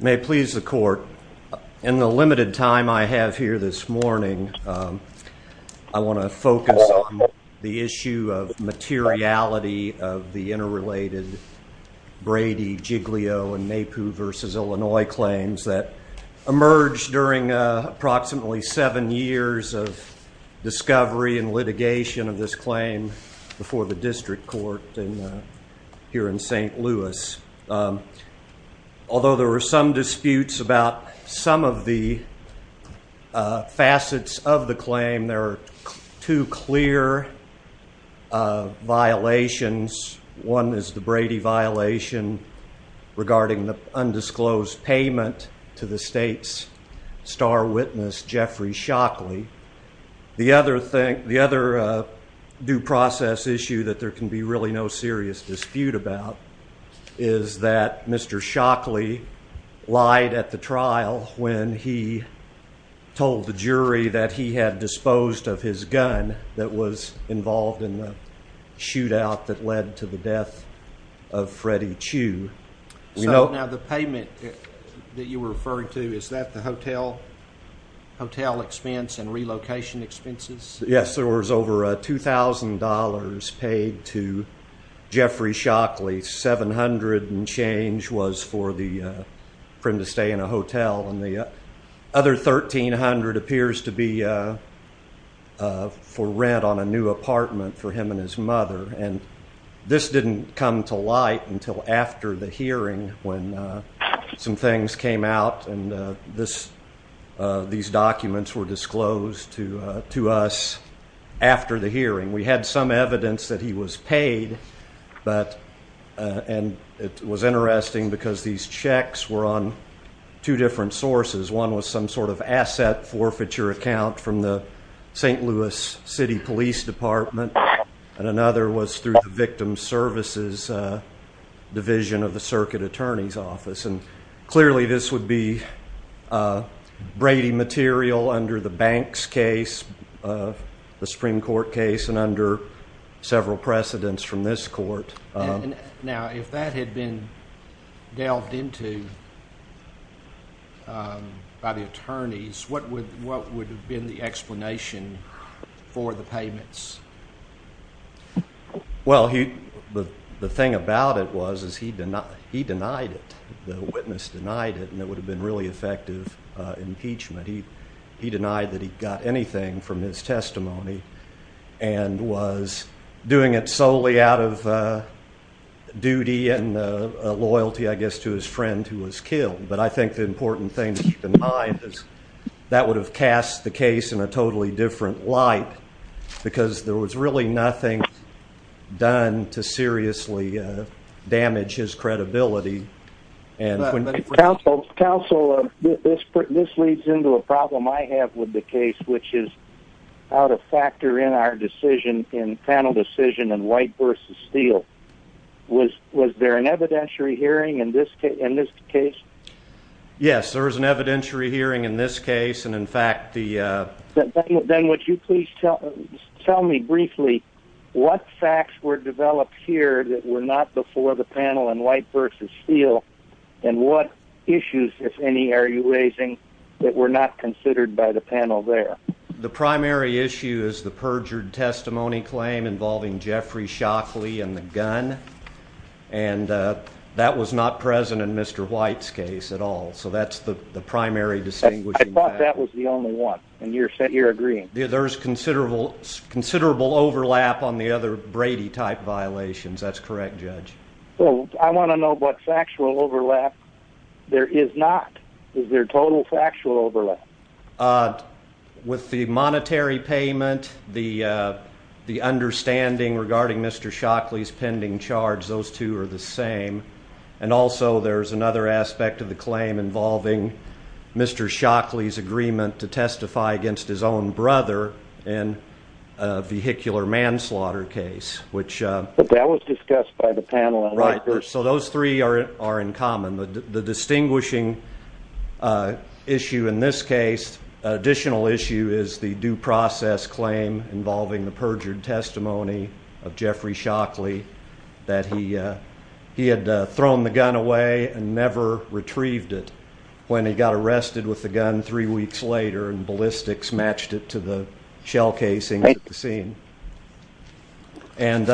May it please the court, in the limited time I have here this morning, I want to focus on the issue of materiality of the interrelated Brady, Giglio, and Maypoo v. Illinois claims that emerged during approximately seven years of discovery and litigation of this claim before the district court here in St. Louis. Although there were some disputes about some of the facets of the claim, there are two clear violations. One is the Brady violation regarding the undisclosed payment to the state's star witness Jeffrey Shockley. The other due process issue that there can be really no serious dispute about is that Mr. Shockley lied at the trial when he told the jury that he had disposed of his gun that was involved in the shootout that led to the death of Freddie Chu. So now the payment that you were referring to, is that the hotel expense and relocation expenses? Yes, there was over $2,000 paid to Jeffrey Shockley, $700 and change was for him to stay in a hotel, and the other $1,300 appears to be for rent on a new apartment for him and his mother. And this didn't come to light until after the hearing when some things came out and these documents were disclosed to us after the hearing. We had some evidence that he was paid, and it was interesting because these checks were on two different sources. One was some sort of asset forfeiture account from the St. Louis City Police Department, and another was through the Victim Services Division of the Circuit Attorney's Office. Clearly, this would be Brady material under the Banks case, the Supreme Court case, and under several precedents from this court. Now, if that had been delved into by the attorneys, what would have been the explanation for the payments? Well, the thing about it was he denied it. The witness denied it, and it would have been really effective impeachment. He denied that he got anything from his testimony and was doing it solely out of duty and loyalty, I guess, to his friend who was killed. But I think the important thing to keep in mind is that would have cast the case in a totally different light because there was really nothing done to seriously damage his credibility. Counsel, this leads into a problem I have with the case, which is how to factor in our decision in panel decision in White v. Steele. Was there an evidentiary hearing in this case? Yes, there was an evidentiary hearing in this case, and in fact the... Then would you please tell me briefly what facts were developed here that were not before the panel in White v. Steele, and what issues, if any, are you raising that were not considered by the panel there? The primary issue is the perjured testimony claim involving Jeffrey Shockley and the gun, and that was not present in Mr. White's case at all. So that's the primary distinguishing fact. I thought that was the only one, and you're agreeing. There's considerable overlap on the other Brady-type violations. That's correct, Judge. Well, I want to know what factual overlap there is not. Is there total factual overlap? With the monetary payment, the understanding regarding Mr. Shockley's pending charge, those two are the same, and also there's another aspect of the claim involving Mr. Shockley's agreement to testify against his own brother in a vehicular manslaughter case, which... But that was discussed by the panel. Right. So those three are in common. The distinguishing issue in this case, additional issue, is the due process claim involving the perjured testimony of Jeffrey Shockley that he had thrown the gun away and never retrieved it when he got arrested with the gun three weeks later and ballistics matched it to the shell casing at the scene. And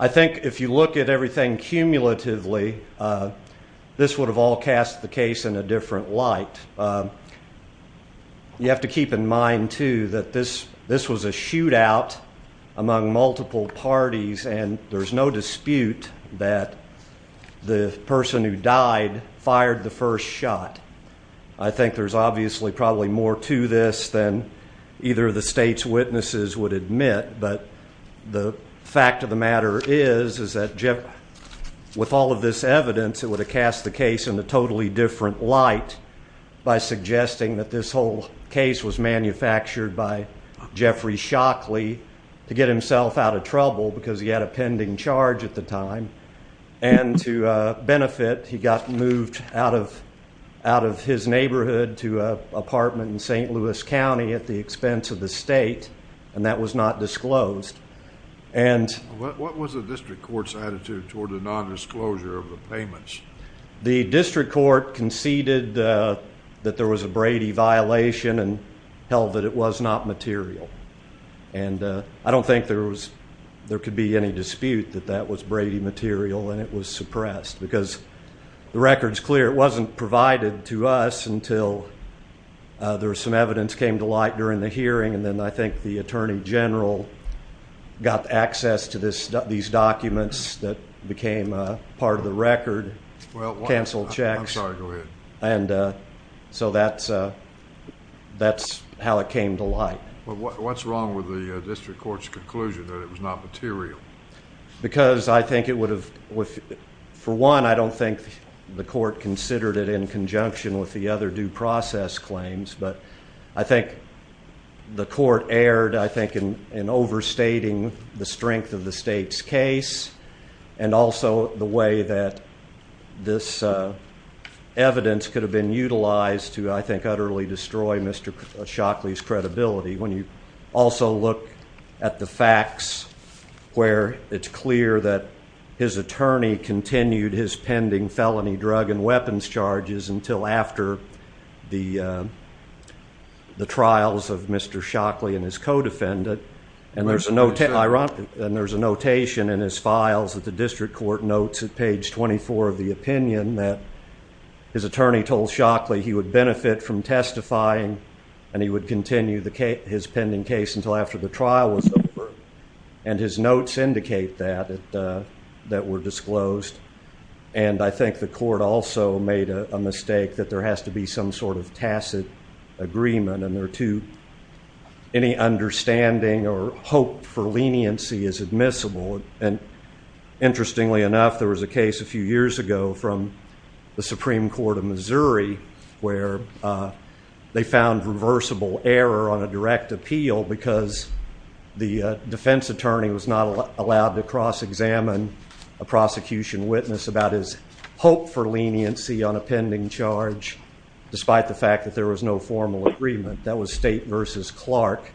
I think if you look at everything cumulatively, this would have all cast the case in a different light. You have to keep in mind, too, that this was a shootout among multiple parties, and there's no dispute that the person who died fired the first shot. I think there's the fact of the matter is that with all of this evidence, it would have cast the case in a totally different light by suggesting that this whole case was manufactured by Jeffrey Shockley to get himself out of trouble because he had a pending charge at the time. And to benefit, he got moved out of his neighborhood to an apartment in St. Louis County at the What was the district court's attitude toward the nondisclosure of the payments? The district court conceded that there was a Brady violation and held that it was not material. And I don't think there could be any dispute that that was Brady material and it was suppressed because the record's clear it wasn't provided to us until there was some evidence came to light during the hearing, and then I think the attorney general got access to these documents that became part of the record, canceled checks. I'm sorry, go ahead. And so that's how it came to light. What's wrong with the district court's conclusion that it was not material? Because I think it would have, for one, I don't think the court considered it in conjunction with the other due process claims, but I think the court erred, I think, in overstating the strength of the state's case and also the way that this evidence could have been utilized to, I think, utterly destroy Mr. Shockley's credibility. When you also look at the facts where it's clear that his attorney continued his pending felony drug and weapons charges until after the trials of Mr. Shockley and his co-defendant, and there's a notation in his files that the district court notes at page 24 of the opinion that his attorney told Shockley he would benefit from testifying and he would continue his pending case until after the trial was over, and his notes indicate that, that were disclosed. And I think the court also made a mistake that there has to be some sort of tacit agreement and there are two, any understanding or hope for leniency is admissible. And interestingly enough, there was a case a few years ago from the Supreme Court of Missouri where they found reversible error on a direct appeal because the defense attorney was not allowed to cross-examine a prosecution witness about his hope for leniency on a pending charge despite the fact that there was no formal agreement. That was State v. Clark.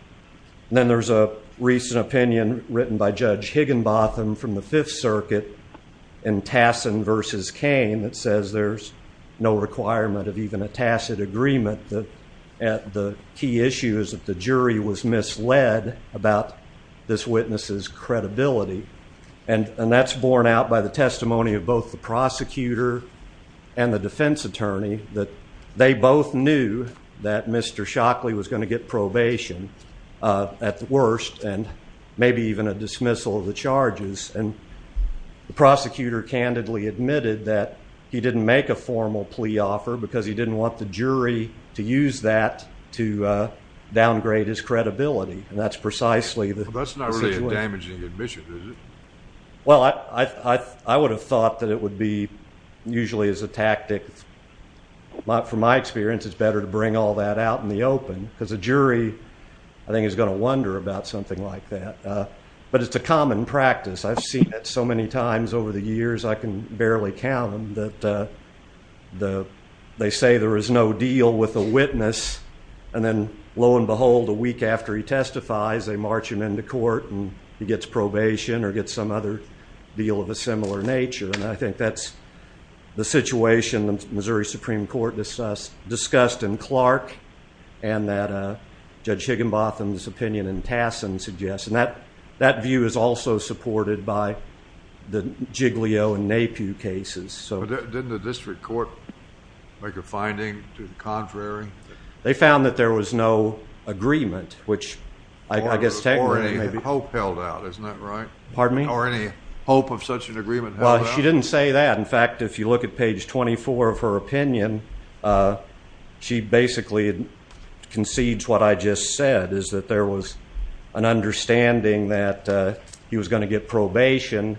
And then there's a recent opinion written by Judge Higginbotham from the Fifth Circuit in Tassin v. Kane that says there's no requirement of even a tacit agreement. The key issue is that the jury was misled about this witness's credibility. And that's borne out by the testimony of both the prosecutor and the defense attorney that they both knew that Mr. Shockley was going to get probation at the worst and maybe even a dismissal of the charges. And the prosecutor candidly admitted that he didn't make a formal plea offer because he didn't want the jury to use that to downgrade his credibility. And that's precisely the situation. Well, that's not really a damaging admission, is it? Well, I would have thought that it would be usually as a tactic. From my experience, it's better to bring all that out in the open because a jury, I think, is going to wonder about something like that. But it's a common practice. I've seen it so many times over the years, I can barely count them, that they say there is no deal with the witness, and then lo and behold, a week after he testifies, they march him into court and he gets probation or gets some other deal of a similar nature. And I think that's the situation the Missouri Supreme Court discussed in Clark and that Judge Higginbotham's opinion in Tassin suggests. And that view is also supported by the Giglio and Napue cases. Didn't the district court make a finding to the contrary? They found that there was no agreement, which I guess technically may be. Or any hope held out, isn't that right? Pardon me? Or any hope of such an agreement held out? Well, she didn't say that. In fact, if you look at page 24 of her opinion, she basically concedes what I just said, is that there was an understanding that he was going to get probation,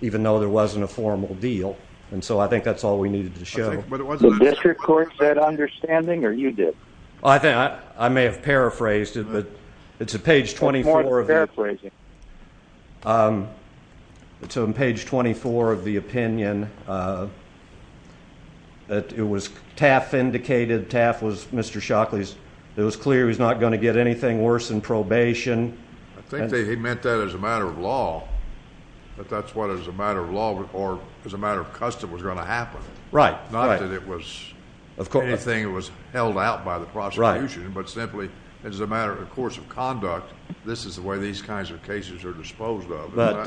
even though there wasn't a formal deal. And so I think that's all we needed to show. Did the district court get that understanding, or you did? I may have paraphrased it, but it's on page 24 of the opinion that TAF indicated. TAF was Mr. Shockley's. It was clear he was not going to get anything worse than probation. I think he meant that as a matter of law, that that's what as a matter of law or as a matter of custom was going to happen. Right. Not that it was anything that was held out by the prosecution, but simply as a matter of course of conduct, this is the way these kinds of cases are disposed of. But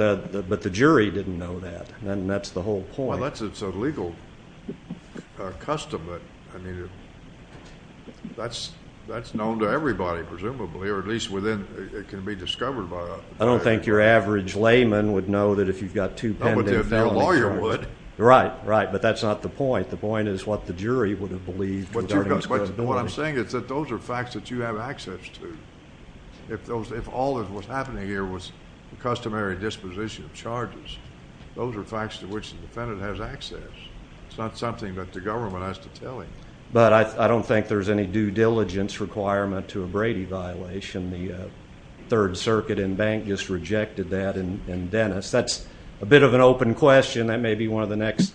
the jury didn't know that. And that's the whole point. Well, that's a legal custom. I mean, that's known to everybody, presumably, or at least within it can be discovered by us. I don't think your average layman would know that if you've got two pending felony charges. No, but if your lawyer would. Right, right. But that's not the point. The point is what the jury would have believed regarding his credibility. What I'm saying is that those are facts that you have access to. If all that was happening here was the customary disposition of charges, those are facts to which the defendant has access. It's not something that the government has to tell him. But I don't think there's any due diligence requirement to a Brady violation. The Third Circuit in Bank just rejected that in Dennis. That's a bit of an open question. That may be one of the next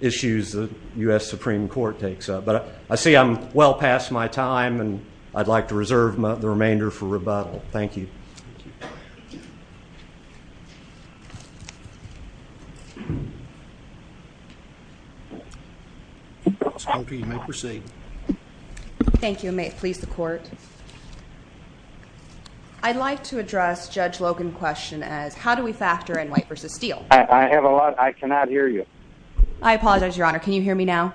issues the U.S. Supreme Court takes up. But I see I'm well past my time, and I'd like to reserve the remainder for rebuttal. Thank you. Thank you. Ms. Parker, you may proceed. Thank you. May it please the Court. I'd like to address Judge Logan's question as how do we factor in White v. Steele? I have a lot. I cannot hear you. I apologize, Your Honor. Can you hear me now?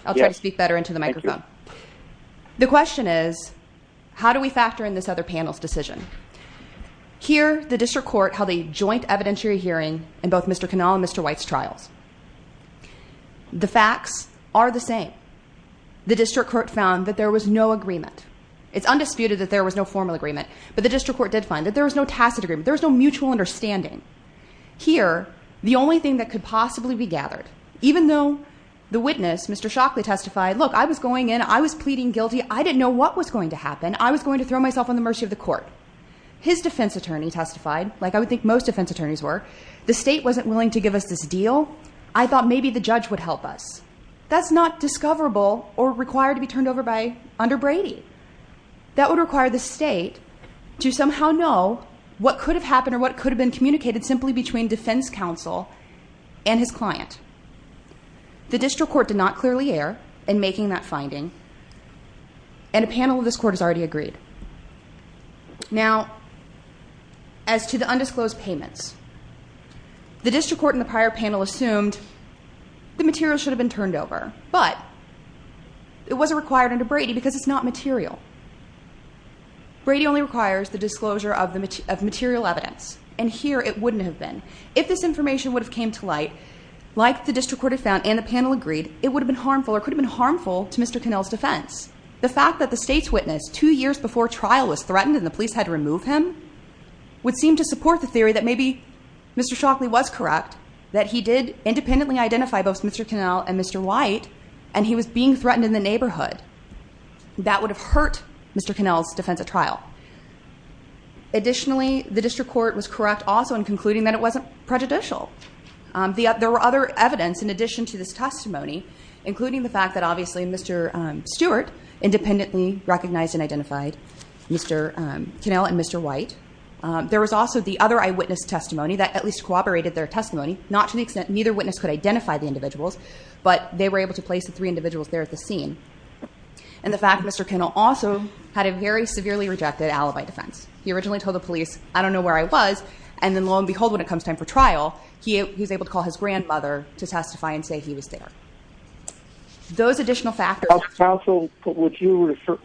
Yes. I'll try to speak better into the microphone. Thank you. The question is how do we factor in this other panel's decision? Here, the district court held a joint evidentiary hearing in both Mr. Kanawha and Mr. White's trials. The facts are the same. The district court found that there was no agreement. It's undisputed that there was no formal agreement. But the district court did find that there was no tacit agreement. There was no mutual understanding. Here, the only thing that could possibly be gathered, even though the witness, Mr. Shockley, testified, look, I was going in. I was pleading guilty. I didn't know what was going to happen. I was going to throw myself on the mercy of the court. His defense attorney testified, like I would think most defense attorneys were. The state wasn't willing to give us this deal. I thought maybe the judge would help us. That's not discoverable or required to be turned over by under Brady. That would require the state to somehow know what could have happened or what could have been communicated simply between defense counsel and his client. The district court did not clearly err in making that finding, and a panel of this court has already agreed. Now, as to the undisclosed payments, the district court in the prior panel assumed the material should have been turned over, but it wasn't required under Brady because it's not material. Brady only requires the disclosure of material evidence, and here it wouldn't have been. If this information would have came to light, like the district court had found and the panel agreed, it would have been harmful or could have been harmful to Mr. Connell's defense. The fact that the state's witness two years before trial was threatened and the police had to remove him would seem to support the theory that maybe Mr. Shockley was correct, that he did independently identify both Mr. Connell and Mr. White, and he was being threatened in the neighborhood. That would have hurt Mr. Connell's defense at trial. Additionally, the district court was correct also in concluding that it wasn't prejudicial. There were other evidence in addition to this testimony, including the fact that obviously Mr. Stewart independently recognized and identified Mr. Connell and Mr. White. There was also the other eyewitness testimony that at least corroborated their testimony, not to the extent neither witness could identify the individuals, but they were able to place the three individuals there at the scene. And the fact that Mr. Connell also had a very severely rejected alibi defense. He originally told the police, I don't know where I was, and then lo and behold, when it comes time for trial, he was able to call his grandmother to testify and say he was there. Those additional factors... Counsel, would you refer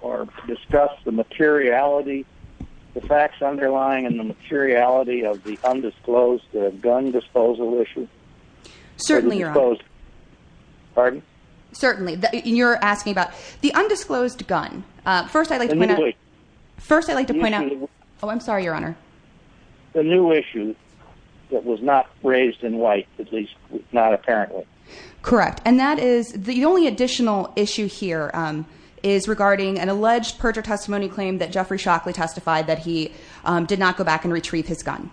or discuss the materiality, the facts underlying and the materiality of the undisclosed gun disposal issue? Certainly, Your Honor. Pardon? Certainly. You're asking about the undisclosed gun. First, I'd like to point out... First, I'd like to point out... Oh, I'm sorry, Your Honor. The new issue that was not raised in White, at least not apparently. Correct. And that is the only additional issue here is regarding an alleged perjure testimony claim that Jeffrey Shockley testified that he did not go back and retrieve his gun.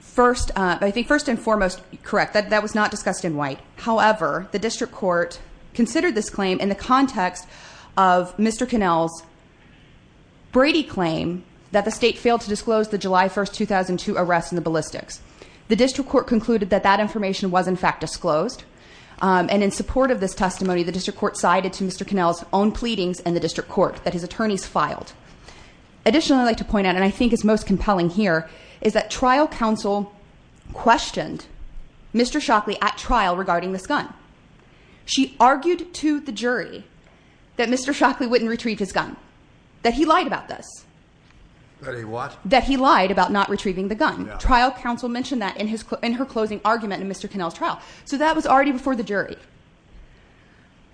First and foremost, correct, that was not discussed in White. However, the district court considered this claim in the context of Mr. Connell's Brady claim that the state failed to disclose the July 1, 2002 arrest in the ballistics. The district court concluded that that information was in fact disclosed. And in support of this testimony, the district court sided to Mr. Connell's own pleadings in the district court that his attorneys filed. Additionally, I'd like to point out, and I think it's most compelling here, is that trial counsel questioned Mr. Shockley at trial regarding this gun. She argued to the jury that Mr. Shockley went and retrieved his gun, that he lied about this. That he what? That he lied about not retrieving the gun. Trial counsel mentioned that in her closing argument in Mr. Connell's trial. So that was already before the jury.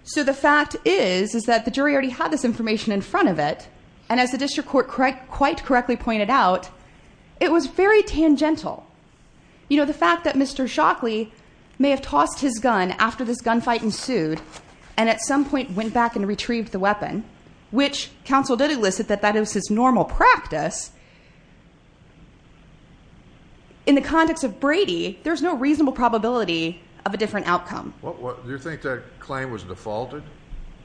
So the fact is, is that the jury already had this information in front of it. And as the district court quite correctly pointed out, it was very tangential. You know, the fact that Mr. Shockley may have tossed his gun after this gun fight ensued, and at some point went back and retrieved the weapon, which counsel did elicit that that is his normal practice. In the context of Brady, there's no reasonable probability of a different outcome. Do you think that claim was defaulted?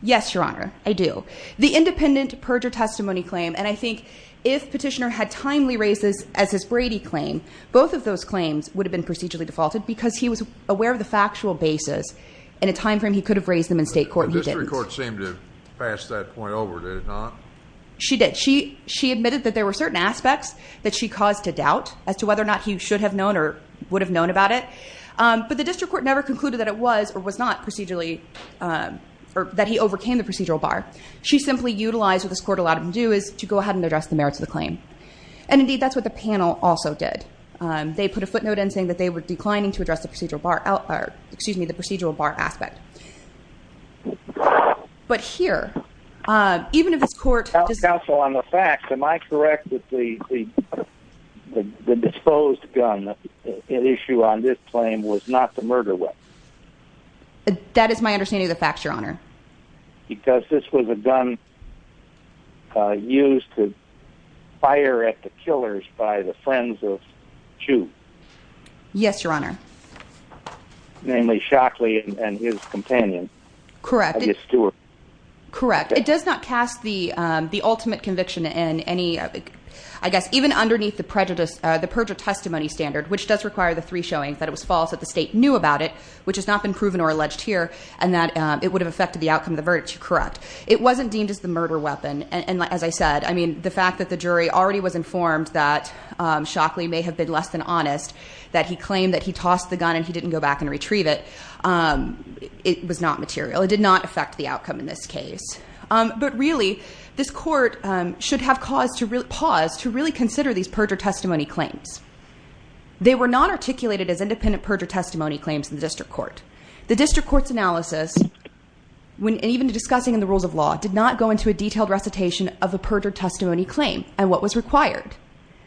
Yes, Your Honor, I do. The independent perjure testimony claim, and I think if Petitioner had timely raised this as his Brady claim, both of those claims would have been procedurally defaulted because he was aware of the factual basis. In a time frame, he could have raised them in state court, and he didn't. The district court seemed to have passed that point over, did it not? She did. She admitted that there were certain aspects that she caused to doubt as to whether or not he should have known or would have known about it. But the district court never concluded that it was or was not procedurally, or that he overcame the procedural bar. She simply utilized what this court allowed him to do, is to go ahead and address the merits of the claim. And indeed, that's what the panel also did. They put a footnote in saying that they were declining to address the procedural bar, excuse me, the procedural bar aspect. But here, even if this court... Counsel, on the facts, am I correct that the disposed gun, an issue on this claim, was not the murder weapon? That is my understanding of the facts, Your Honor. Because this was a gun used to fire at the killers by the friends of Chu. Yes, Your Honor. Namely, Shockley and his companion. Correct. I mean, Stewart. Correct. It does not cast the ultimate conviction in any, I guess, even underneath the perjury testimony standard, which does require the three showings that it was false, that the state knew about it, which has not been proven or alleged here, and that it would have affected the outcome of the verdict. You're correct. It wasn't deemed as the murder weapon. And as I said, I mean, the fact that the jury already was informed that Shockley may have been less than honest, that he claimed that he tossed the gun and he didn't go back and retrieve it, it was not material. It did not affect the outcome in this case. But really, this court should have paused to really consider these perjury testimony claims. They were not articulated as independent perjury testimony claims in the district court. The district court's analysis, even discussing in the rules of law, did not go into a detailed recitation of a perjury testimony claim and what was required.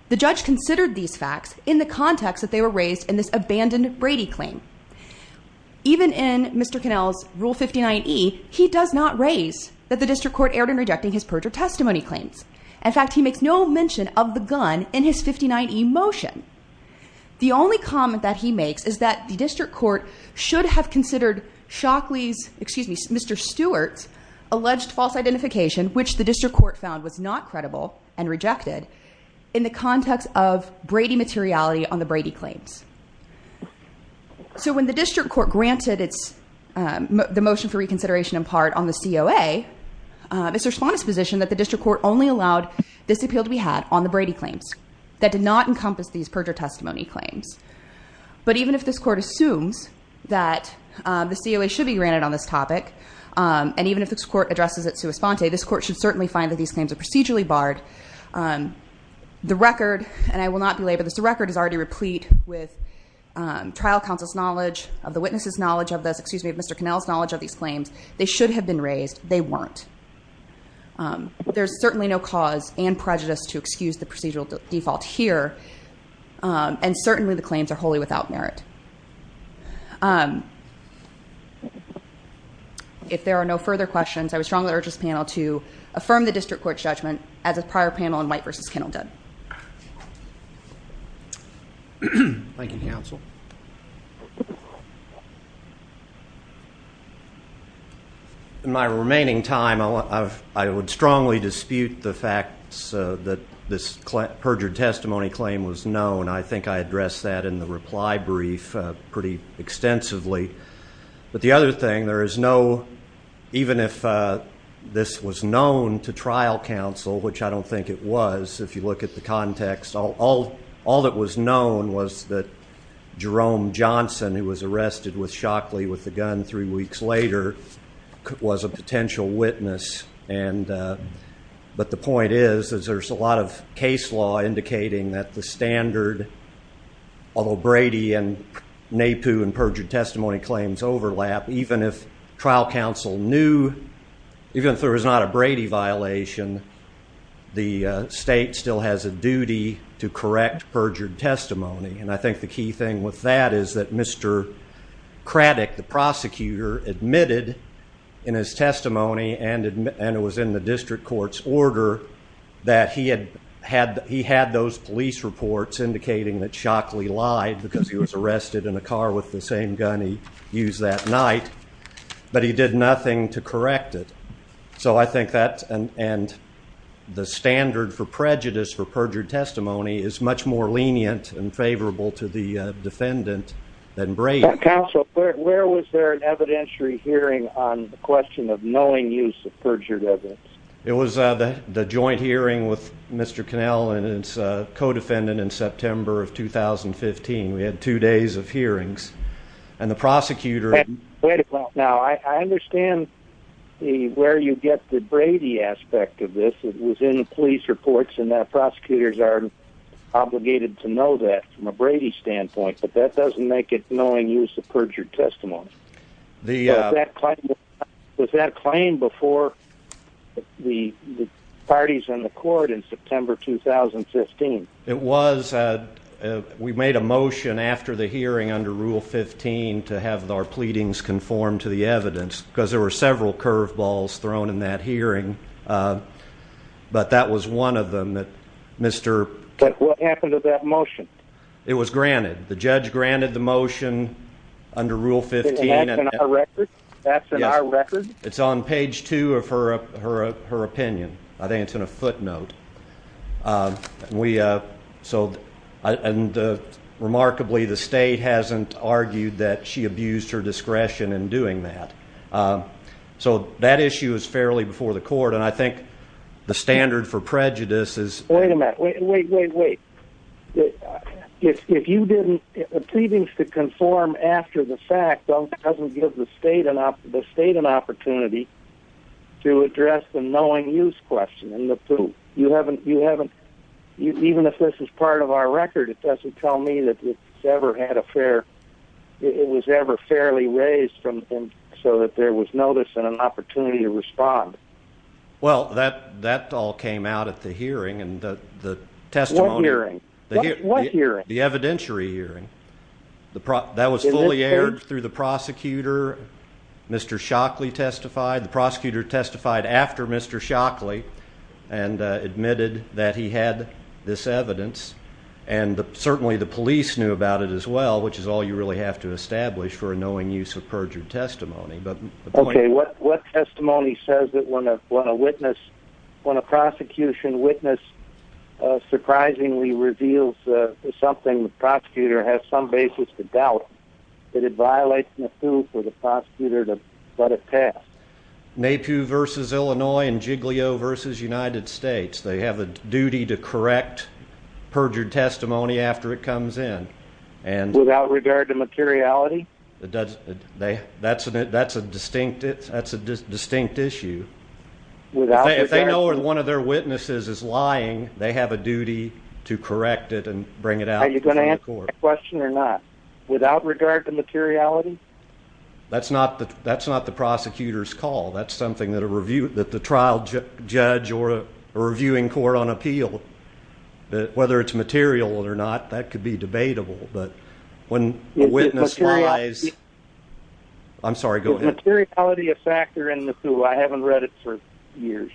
The judge considered these facts in the context that they were raised in this abandoned Brady claim. Even in Mr. Connell's Rule 59E, he does not raise that the district court erred in rejecting his perjury testimony claims. In fact, he makes no mention of the gun in his 59E motion. The only comment that he makes is that the district court should have considered Mr. Stewart's alleged false identification, which the district court found was not credible and rejected, in the context of Brady materiality on the Brady claims. When the district court granted the motion for reconsideration, in part, on the COA, Mr. Esponte's position that the district court only allowed this appeal to be had on the Brady claims. That did not encompass these perjury testimony claims. But even if this court assumes that the COA should be granted on this topic, and even if this court addresses it to Esponte, this court should certainly find that these claims are procedurally barred. The record, and I will not belabor this, but the record is already replete with trial counsel's knowledge, of the witnesses' knowledge of this, excuse me, of Mr. Connell's knowledge of these claims. They should have been raised. They weren't. There's certainly no cause and prejudice to excuse the procedural default here, and certainly the claims are wholly without merit. If there are no further questions, I would strongly urge this panel to affirm the district court's judgment as a prior panel in White v. Connell did. Thank you, counsel. In my remaining time, I would strongly dispute the fact that this perjured testimony claim was known. I think I addressed that in the reply brief pretty extensively. But the other thing, there is no, even if this was known to trial counsel, which I don't think it was, if you look at the context, all that was known was that Jerome Johnson, who was arrested with Shockley with a gun three weeks later, was a potential witness. But the point is, is there's a lot of case law indicating that the standard, although Brady and NAPU and perjured testimony claims overlap, even if trial counsel knew, even if there was not a Brady violation, the state still has a duty to correct perjured testimony. And I think the key thing with that is that Mr. Craddick, the prosecutor, admitted in his testimony, and it was in the district court's order, that he had those police reports indicating that Shockley lied because he was arrested in a car with the same gun he used that night, but he did nothing to correct it. So I think that, and, and the standard for prejudice for perjured testimony is much more lenient and favorable to the defendant than Brady. Counsel, where was there an evidentiary hearing on the question of knowing use of perjured evidence? It was the joint hearing with Mr. Connell and his co-defendant in September of 2015. We had two days of hearings and the prosecutor. Now I understand where you get the Brady aspect of this. It was in the police reports and that prosecutors are obligated to know that from a Brady standpoint, but that doesn't make it knowing use of perjured testimony. Was that claim before the parties in the court in September, 2015? It was. We made a motion after the hearing under rule 15 to have our pleadings conform to the evidence because there were several curve balls thrown in that hearing. But that was one of them that Mr. What happened to that motion? It was granted. The judge granted the motion under rule 15. And that's in our record. It's on page two of her, her, her opinion. I think it's in a footnote. We, uh, so, uh, and, uh, remarkably, the state hasn't argued that she abused her discretion in doing that. Um, so that issue is fairly before the court. And I think the standard for prejudice is wait a minute, wait, wait, wait, wait. If you didn't, if the pleadings to conform after the fact, don't doesn't give the state and the state an opportunity to address the knowing use question in the pool. You haven't, you haven't, even if this is part of our record, it doesn't tell me that it's ever had a fair, it was ever fairly raised from him so that there was notice and an opportunity to respond. Well, that, that all came out at the hearing and the testimony hearing, the evidentiary hearing, the pro that was fully aired through the prosecutor. Mr. Shockley testified. The prosecutor testified after Mr. Shockley and, uh, admitted that he had this evidence and the, certainly the police knew about it as well, which is all you really have to establish for a knowing use of perjured testimony. But what testimony says that when a, when a witness, when a prosecution witness, uh, surprisingly reveals something prosecutor has some basis to doubt that it may pew versus Illinois and Jiglio versus United States. They have a duty to correct perjured testimony after it comes in. And without regard to materiality, it does. They, that's an, that's a distinct it's that's a distinct issue without, if they know where one of their witnesses is lying, they have a duty to correct it and bring it out. Are you going to answer the question or not without regard to materiality? That's not the, that's not the prosecutor's call. That's something that a review that the trial judge or a reviewing court on appeal that whether it's material or not, that could be debatable, but when the witness lies, I'm sorry, go ahead. Materiality of factor in the pool. I haven't read it for years.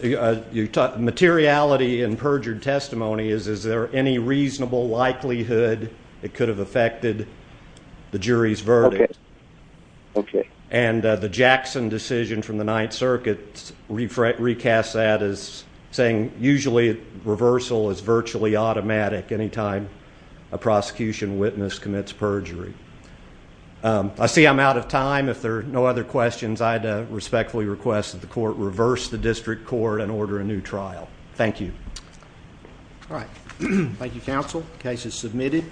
You talk materiality and perjured testimony is, is there any reasonable likelihood it could have affected the jury's verdict? Okay. And, uh, the Jackson decision from the ninth circuit re fret, recast that as saying, usually reversal is virtually automatic anytime a prosecution witness commits perjury. Um, I see I'm out of time. If there are no other questions, I'd respectfully request that the court reverse the district court and order a new trial. Thank you. All right. Thank you. Counsel cases submitted.